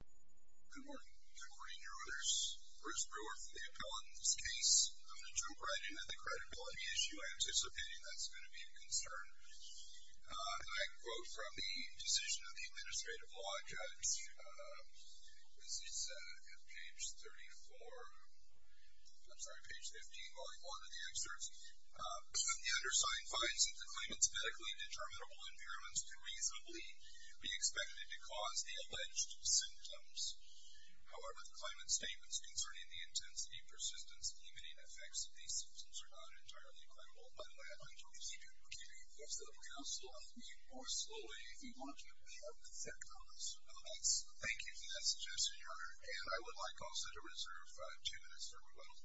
Good morning. Good morning, Your Honors. Bruce Brewer for the Appellant in this case. I'm going to jump right in at the credibility issue. I'm anticipating that's going to be a concern. I quote from the Decision of the Administrative Law Judges. This is page 34, I'm sorry, page 15, volume 1 of the excerpts. The undersigned finds that the claimant's medically determinable impairments can reasonably be expected to cause the alleged symptoms. However, the claimant's statements concerning the intensity, persistence, and limiting effects of these symptoms are not entirely credible. By the way, I'm going to keep you posted. We also will meet more slowly if you want to be up to date on this. Thank you for that suggestion, Your Honor, and I would like also to reserve two minutes for rebuttal.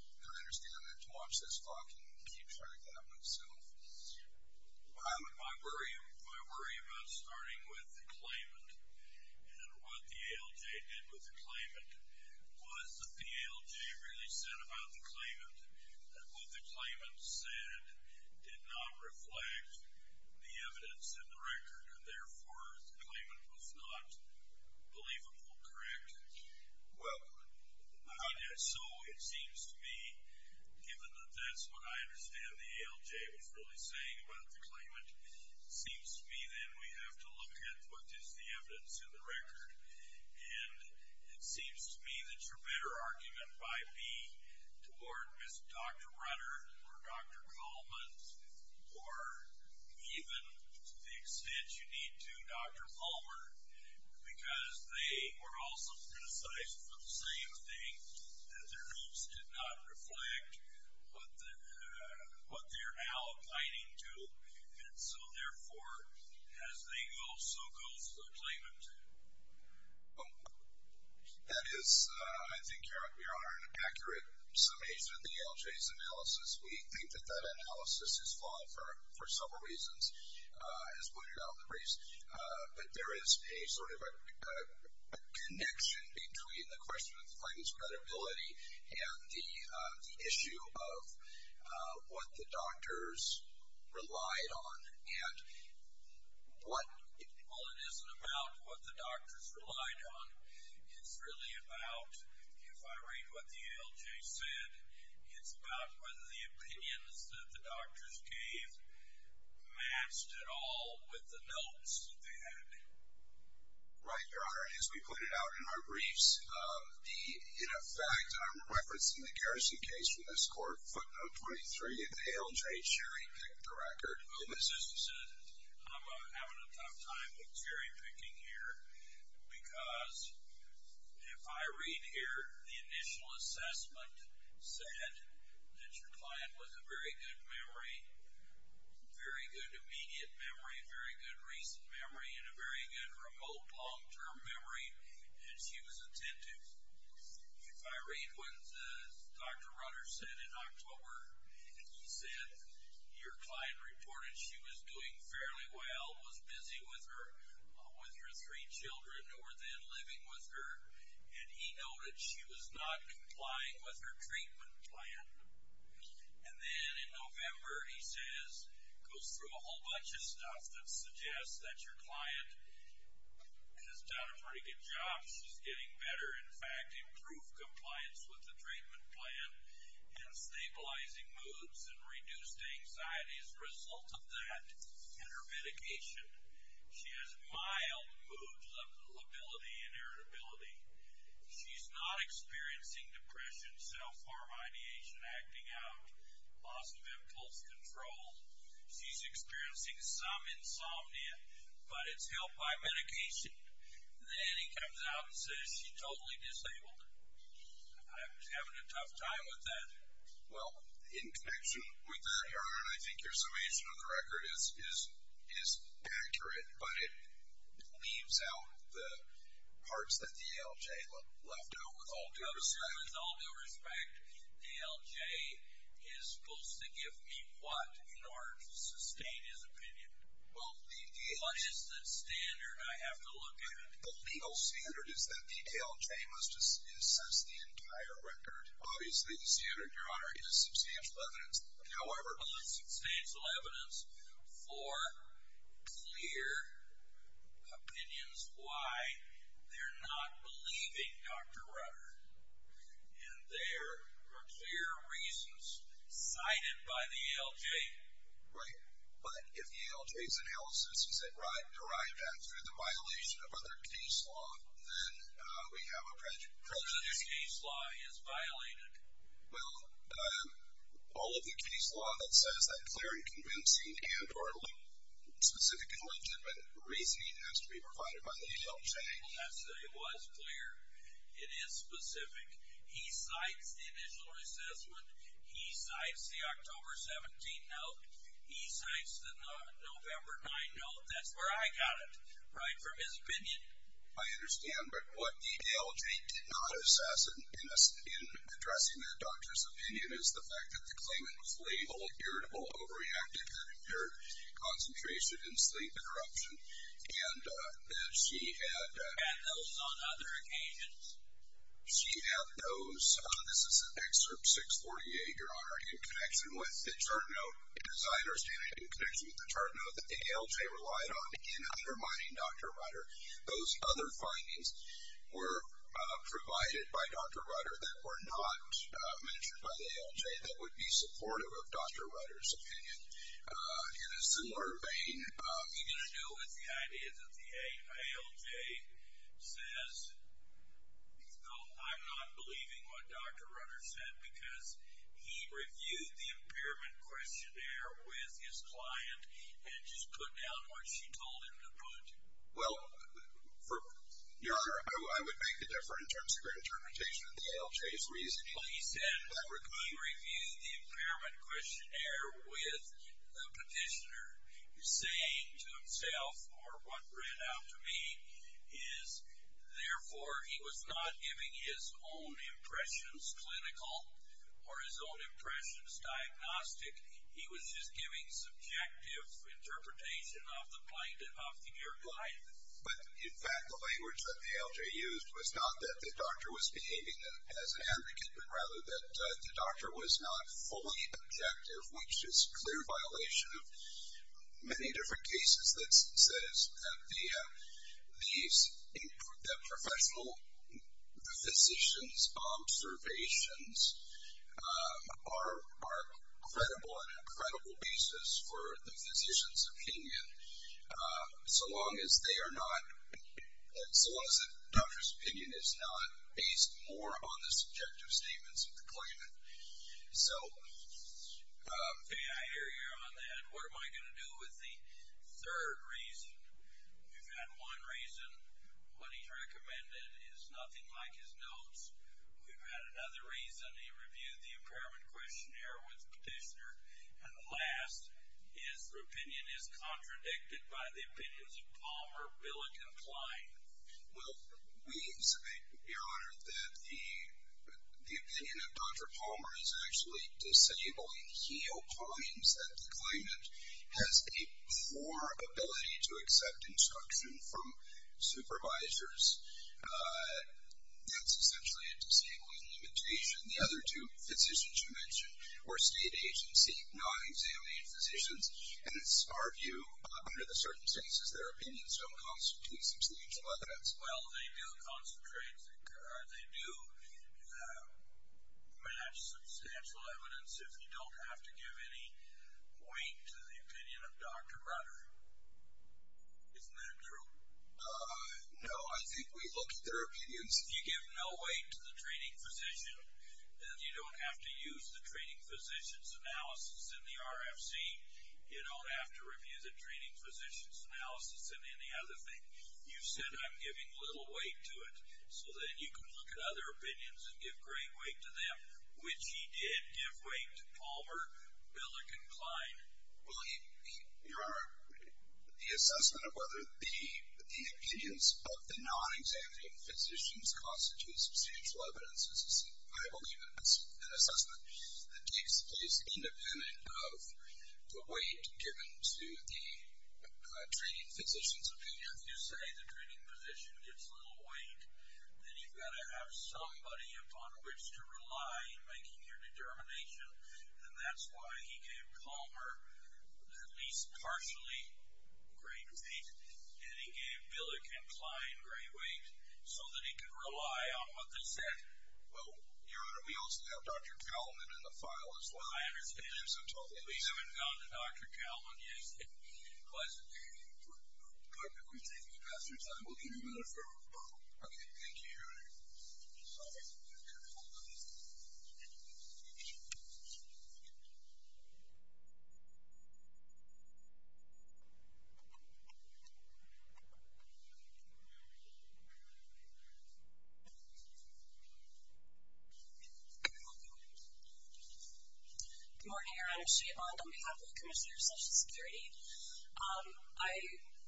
I understand that to watch this clock and keep track of that myself. I worry about starting with the claimant and what the ALJ did with the claimant was that the ALJ really said about the claimant that what the claimant said did not reflect the evidence in the record and therefore the claimant was not believable, correct? Well, so it seems to me given that that's what I understand the ALJ was really saying about the claimant, it seems to me then we have to look at what is the evidence in the record and it seems to me that your better argument might be toward Mr. Dr. Runner or Dr. Coleman or even to the extent you need to, Dr. Palmer, because they were also criticized for the same thing, that their moves did not reflect what they're now abiding to and so therefore as they go so goes the claimant. That is, I think, Your Honor, an accurate summation of the ALJ's analysis. We think that that analysis is flawed for several reasons, as pointed out in the briefs, but there is a sort of a connection between the question of the claimant's credibility and the issue of what the doctors relied on and what... Well, it isn't about what the doctors relied on. It's really about, if I read what the ALJ said, it's about whether the opinions that the doctors gave matched at all with the notes that they had. Right, Your Honor, and as we pointed out in our briefs, the, in effect, I'm referencing the Garrison case from this court, footnote 23, if the ALJ cherry-picked the record. As you said, I'm having a tough time with cherry-picking here because if I read here, the initial assessment said that your client was a very good memory, very good immediate memory, very good recent memory, and a very good remote long-term memory, and she was attentive. If I read what Dr. Rutter said in October, he said your client reported she was doing fairly well, was busy with her, with her three children who were then living with her, and he noted she was not complying with her treatment plan. And in November, he says, goes through a whole bunch of stuff that suggests that your client has done a pretty good job. She's getting better, in fact, improved compliance with the treatment plan and stabilizing moods and reduced anxiety as a result of that and her medication. She has mild moods of lability and irritability. She's not experiencing depression, self-harm, ideation, acting out, loss of impulse control. She's experiencing some insomnia, but it's helped by medication. Then he comes out and says she's totally disabled. I'm having a tough time with that. Well, in connection with that, Aaron, I think your summation of the record is accurate, but it leaves out the parts that the ALJ left out with all due respect. With all due respect, ALJ is supposed to give me what in order to sustain his opinion? What is the standard I have to look at? The legal standard is that the ALJ must assess the entire record. Obviously, the standard, Your Honor, is substantial evidence. However... Well, it's substantial evidence for clear opinions why they're not believing Dr. Rutter, and there are clear reasons cited by the ALJ. Right, but if the ALJ's analysis is derived at through the violation of other case law, then we have a prejudice case law is violated. Well, all of the case law that says that clearing, convincing, and or specific and legitimate reasoning has to be provided by the ALJ. Well, that said, it was clear. It is specific. He cites the initial assessment. He cites the October 17 note. He cites the November 9 note. That's where I got it, right from his opinion. I understand, but what the ALJ did not assess in addressing that doctor's opinion is the fact that the claimant was labeled irritable, over-reactive, had impaired concentration and sleep interruption, and that she had... And those on other occasions. She had those. This is an excerpt 648, Your Honor, in connection with the chart note. As I understand it, in connection with the chart note that the ALJ relied on in undermining Dr. Rutter, those other findings were provided by Dr. Rutter that were not mentioned by the ALJ that would be supportive of Dr. Rutter's opinion. In a similar vein... Are you going to do with the idea that the ALJ says, no, I'm not believing what Dr. Rutter said because he reviewed the impairment questionnaire with his client and just put down what she told him to put? Well, Your Honor, I would make a difference in terms of your interpretation of the ALJ's reasoning. But he said he reviewed the impairment questionnaire with the petitioner saying to himself, or what ran out to me, is therefore he was not giving his own impressions clinical or his own impressions diagnostic. He was just giving subjective interpretation of the claimant, of the client. But in fact, the language that the ALJ used was not that the doctor was behaving as an advocate, but rather that the doctor was not fully objective, which is clear violation of many different cases that says that the professional physician's observations are credible on an incredible basis for the physician's opinion. So long as they are not based more on the subjective statements of the claimant. So... Yeah, I hear you on that. What am I going to do with the third reason? We've had one reason. What he's recommended is nothing like his notes. We've had another reason. He reviewed the impairment questionnaire with the petitioner. And last, his opinion is contradicted by the We should be honored that the opinion of Dr. Palmer is actually disabling. He opines that the claimant has a poor ability to accept instruction from supervisors. That's essentially a disabling limitation. The other two physicians you mentioned were state agency, non-examined physicians. And it's our view, under the circumstances, their opinions don't constitute substantial evidence. Well, they do concentrate, they do match substantial evidence if you don't have to give any weight to the opinion of Dr. Brunner. Isn't that true? No, I think we look at their opinions. If you give no weight to the treating physician, then you don't have to use the treating physician's analysis in the RFC. You don't have to review the treating physician's analysis. You said I'm giving little weight to it. So then you can look at other opinions and give great weight to them, which he did give weight to Palmer, Billick, and Klein. Well, Your Honor, the assessment of whether the opinions of the non-examined physicians constitute substantial evidence is, I believe, an assessment that takes place independent of the weight given to the treating physician's opinion. If you say the treating physician gets little weight, then you've got to have somebody upon which to rely in making your determination. And that's why he gave Palmer at least partially great weight, and he gave Billick and Klein great weight, so that he could rely on what they said. Well, Your Honor, we also have Dr. Cowlman in the file as well. I understand. We haven't found Dr. Cowlman, yes, and he wasn't there. Pardon me, we're taking up extra time. We'll give you a minute, sir. Okay, thank you, Your Honor. Good morning, Your Honor. Sheetmon, on behalf of the Commissioner of Social Security. I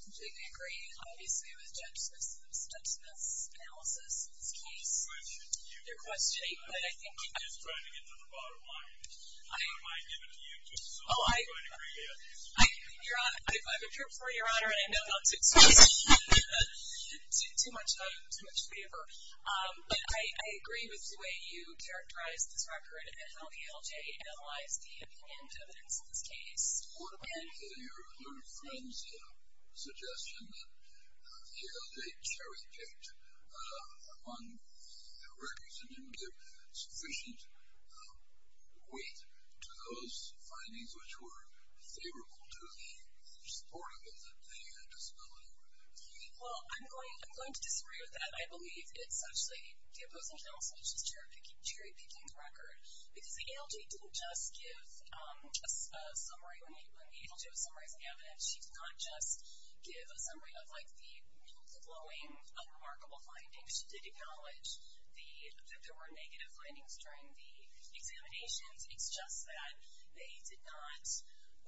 completely agree, obviously, with Judge Smith's analysis of this case. I have a question to you, and I'm just trying to get to the bottom line. I might give it to you, just so I can agree with you. Your Honor, I've appeared before, Your Honor, and I know not to take too much time, too much the way you characterize this record, and how the LJ analyzed the evidence in this case. What were your friends' suggestions that the LJ cherry-picked among the records and didn't give sufficient weight to those findings which were favorable to the, or supportive of the disability? Well, I'm going to disagree with that. I believe it's actually the opposing counsel which is cherry-picking the record, because the LJ didn't just give a summary. When the LJ was summarizing the evidence, she did not just give a summary of the glowing, unremarkable findings. She did acknowledge that there were negative findings during the examinations. It's just that they did not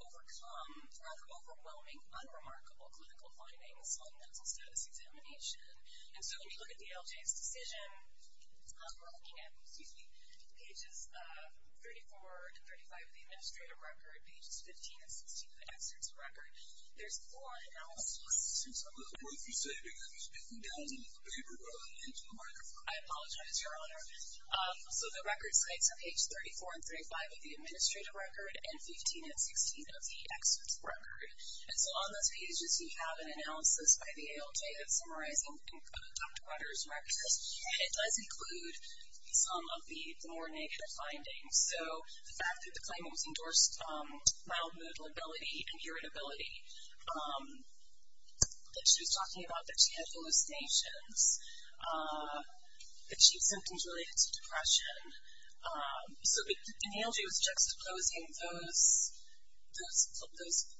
overcome rather overwhelming, unremarkable clinical findings on mental status examination. And so, when you look at the LJ's decision, we're looking at, excuse me, pages 34 and 35 of the administrative record, pages 15 and 16 of the excerpts record. There's four analyses. Since I'm not going to be saving, I'm just getting down into the paper rather than into the microphone. I apologize, Your Honor. So, the record sites are page 34 and 35 of the administrative record, and 15 and 16 of the excerpts record. And so, on those pages, you have an analysis by the ALJ that's summarizing Dr. Waters' records, and it does include some of the more negative findings. So, the fact that the claimant was endorsed mild mood, lability, and irritability, that she was talking about that she had hallucinations, that she had symptoms related to depression. So, the ALJ was juxtaposing those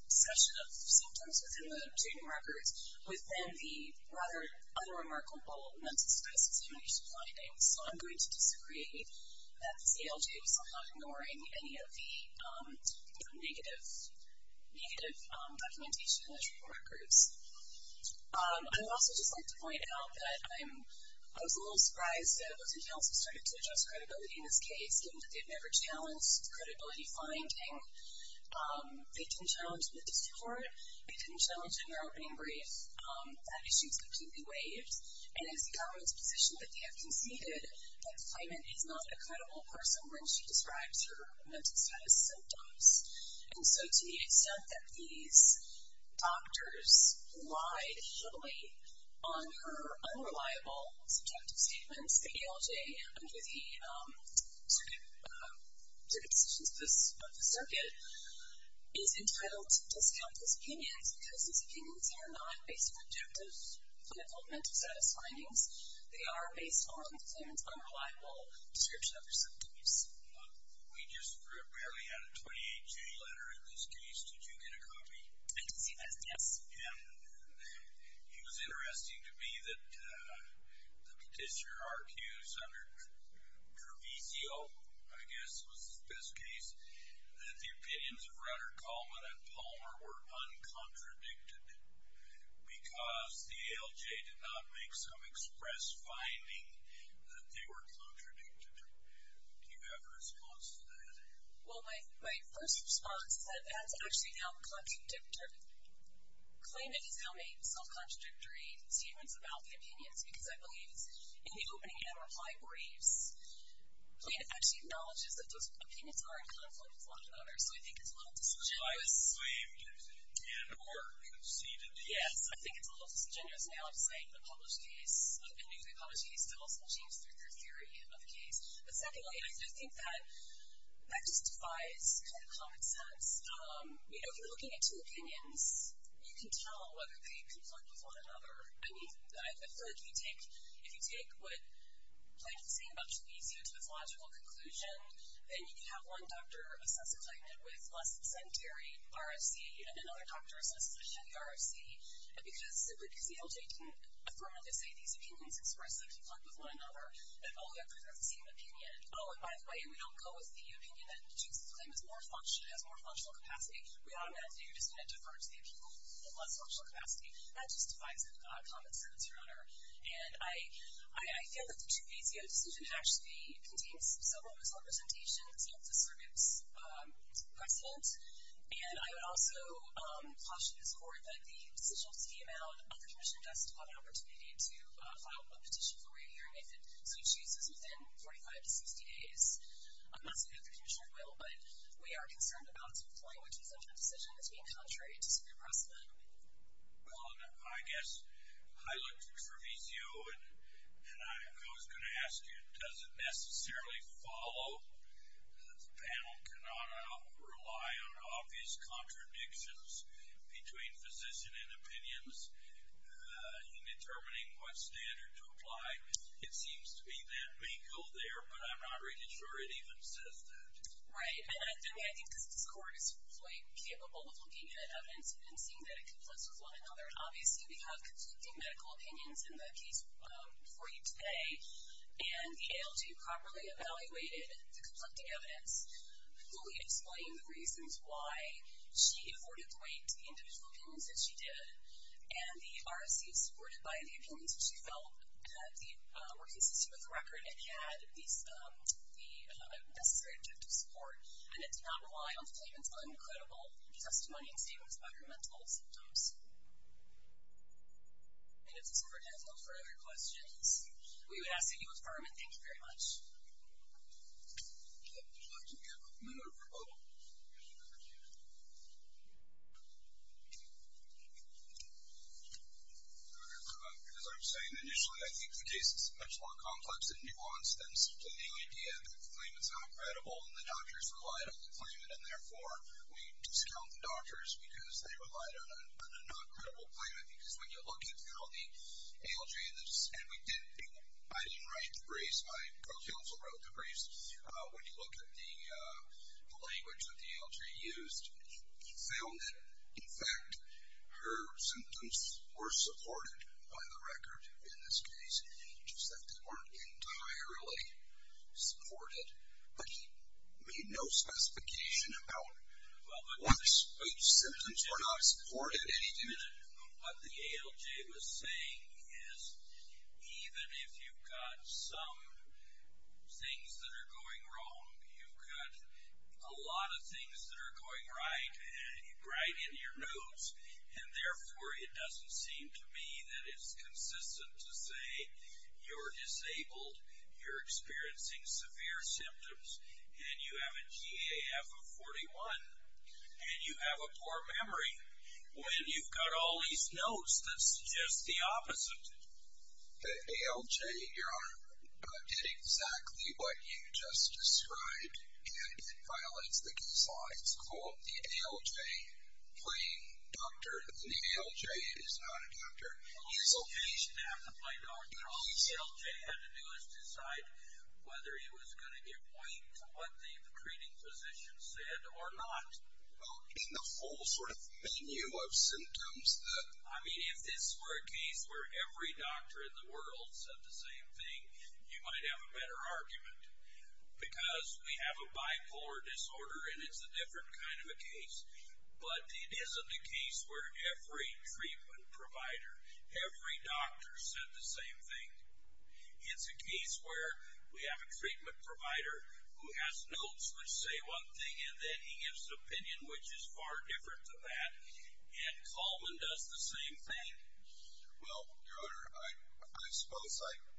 session of symptoms within the administrative records within the rather unremarkable mental status examination findings. So, I'm going to disagree that the ALJ was somehow ignoring any of the negative documentation in the report records. I would also just like to point out that I was a little surprised that it wasn't until she started to address credibility in this case, given that they've never challenged credibility finding. They didn't challenge the district court. They didn't challenge her opening brief. That issue is completely waived, and it's the government's position that they have conceded that the claimant is not a credible person when she describes her mental status symptoms. And so, to the extent that these doctors lied heavily on her unreliable subjective statements, the ALJ, under the circuit decisions of the circuit, is entitled to discount those opinions because those opinions are not based on objective clinical mental status findings. They are based on the claimant's unreliable description of her symptoms. We just barely had a 28-J letter in this case. Did you get a copy? I did see that, yes. And it was interesting to me that the petitioner argues under Trevisio, I guess was the best case, that the opinions of Rutter, Coleman, and Palmer were uncontradicted because the ALJ did not make some express finding that they were contradicted. Do you have a response to that? Well, my first response is that that's actually now contradictory. The claimant has now made self-contradictory statements about the opinions because, I believe, in the opening and reply briefs, the claimant actually acknowledges that those opinions are in conflict with one another. So, I think it's a little disingenuous. So, the client claimed and or conceded. Yes, I think it's a little disingenuous. Now, I'm saying in a published case, a newly published case, to also change through their theory of the case. But secondly, I do think that that justifies kind of the sense. You know, if you're looking at two opinions, you can tell whether they conflict with one another. I mean, I've heard if you take what Plank is saying about Trevisio to this logical conclusion, then you can have one doctor assess a claimant with less than secondary RFC and another doctor assess a claimant with RFC because simply because the ALJ didn't affirmatively say these opinions expressly conflict with one another, then all of them prefer the same opinion. Oh, by the way, we don't go with the opinion that the judge's claim is more functional, has more functional capacity. We automatically are just going to defer to the appeal in less functional capacity. That justifies a comment, sir. That's your honor. And I feel that the Trevisio decision actually contains several misrepresentations of the circuit's precedent. And I would also caution this Court that the decision just came out of the Commissioner opportunity to file a petition for re-hearing if it chooses within 45 to 60 days. I'm not saying that the Commissioner will, but we are concerned about employing a decision that's being contrary to circuit precedent. Well, I guess I looked at Trevisio and I was going to ask you, does it necessarily follow that the panel cannot rely on obvious contradictions between physician and medical opinions in determining what standard to apply? It seems to be that vehicle there, but I'm not really sure it even says that. Right. I mean, I think this Court is quite capable of looking at evidence and seeing that it conflicts with one another. Obviously, we have conflicting medical opinions in the case for you today, and the ALJ properly evaluated the conflicting evidence, fully explaining the reasons why she afforded the weight to individual opinions that she did, and the RSC supported by the opinions that she felt that were consistent with the record and had the necessary objective support, and it did not rely on the claimant's uncredible testimony and statements about her mental symptoms. And if this Court has no further questions, we would ask that you affirm it. Thank you very much. Would you like to give a minute or a couple? As I was saying initially, I think the case is much more complex and nuanced than simply the idea that the claimant's not credible and the doctors relied on the claimant, and therefore we discount the doctors because they relied on a non-credible claimant. Because when you look at how the ALJ, and I didn't write the briefs, my co-counsel wrote the briefs, when you look at the language that the ALJ used, he found that, in fact, her symptoms were supported by the record in this case, just that they weren't entirely supported. But he made no specification about what symptoms were not supported. What the ALJ was saying is, even if you've got some things that are going wrong, you've got a lot of things that are going right in your notes, and therefore it doesn't seem to me that it's consistent to say you're disabled, you're experiencing severe symptoms, and you have a GAF of 41, and you have a poor memory, when you've got all these notes that suggest the opposite. The ALJ, Your Honor, did exactly what you just described, and it violates the case law. It's called the ALJ playing doctor, and the ALJ is not a doctor. The ALJ had to play doctor. All the ALJ had to do was decide whether it was going to give weight to what the treating physician said or not. Well, in the whole sort of menu of symptoms that... I mean, if this were a case where every doctor in the world said the same thing, you might have a better argument, because we have a bipolar disorder, and it's a different kind of a case, but it isn't a case where every treatment provider, every doctor said the same thing. It's a case where we have a treatment provider who has notes which say one thing, and then he gives an opinion which is far different than that, and Kalman does the same thing. Well, Your Honor, I suppose,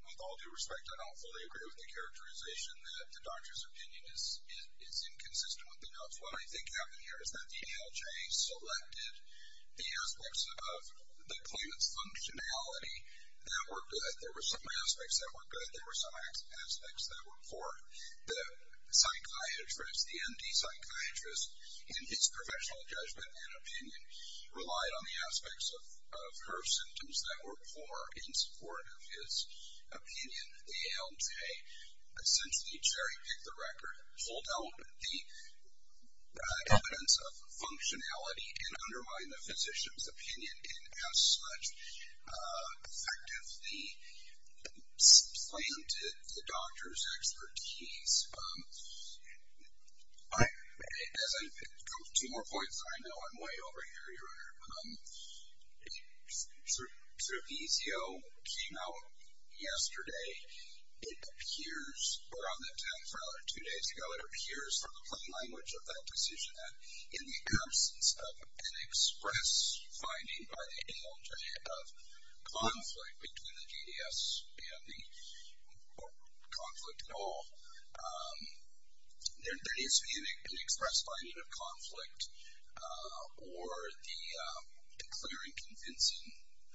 with all due respect, I don't fully agree with the characterization that the doctor's opinion is inconsistent with the notes. What I think happened here is that the ALJ selected the aspects of the appointment's functionality that were good. There were some aspects that were good. There were some aspects that were poor. The psychiatrist, the MD psychiatrist, in his professional judgment and opinion, relied on the aspects of her symptoms that were poor in support of his opinion. The ALJ essentially cherry-picked the record, pulled out the evidence of functionality, and undermined the physician's opinion, and as such, effectively supplanted the doctor's expertise. Two more points, and I know I'm way over here, Your Honor. Cervizio came out yesterday, it appears, or on the 10th, or two days ago, it appears from the plain language of that decision that in the absence of an express finding by the ALJ of conflict between the GDS and the conflict at all, there needs to be an express finding of conflict or the clear and convincing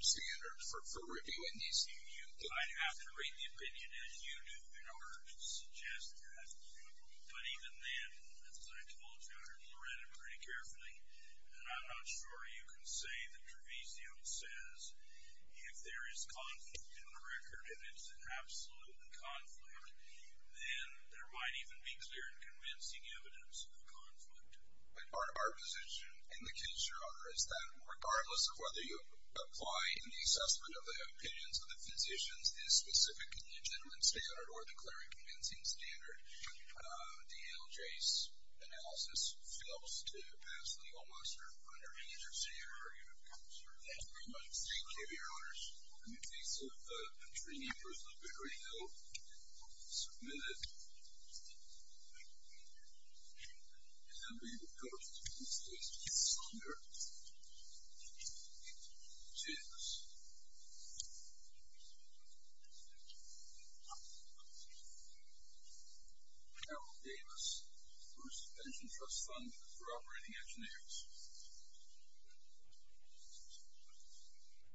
standard for reviewing these things. I'd have to read the opinion as you do in order to suggest that, but even then, as I told you, I read it pretty carefully, and I'm not sure you can say that Cervizio says if there is conflict in the record, and it's an absolute conflict, then there might even be clear and convincing evidence of a conflict. But our position in the case, Your Honor, is that regardless of whether you apply in the assessment of the opinions of the physicians this specific and legitimate standard or the clear and convincing standard, the ALJ's analysis fails to pass the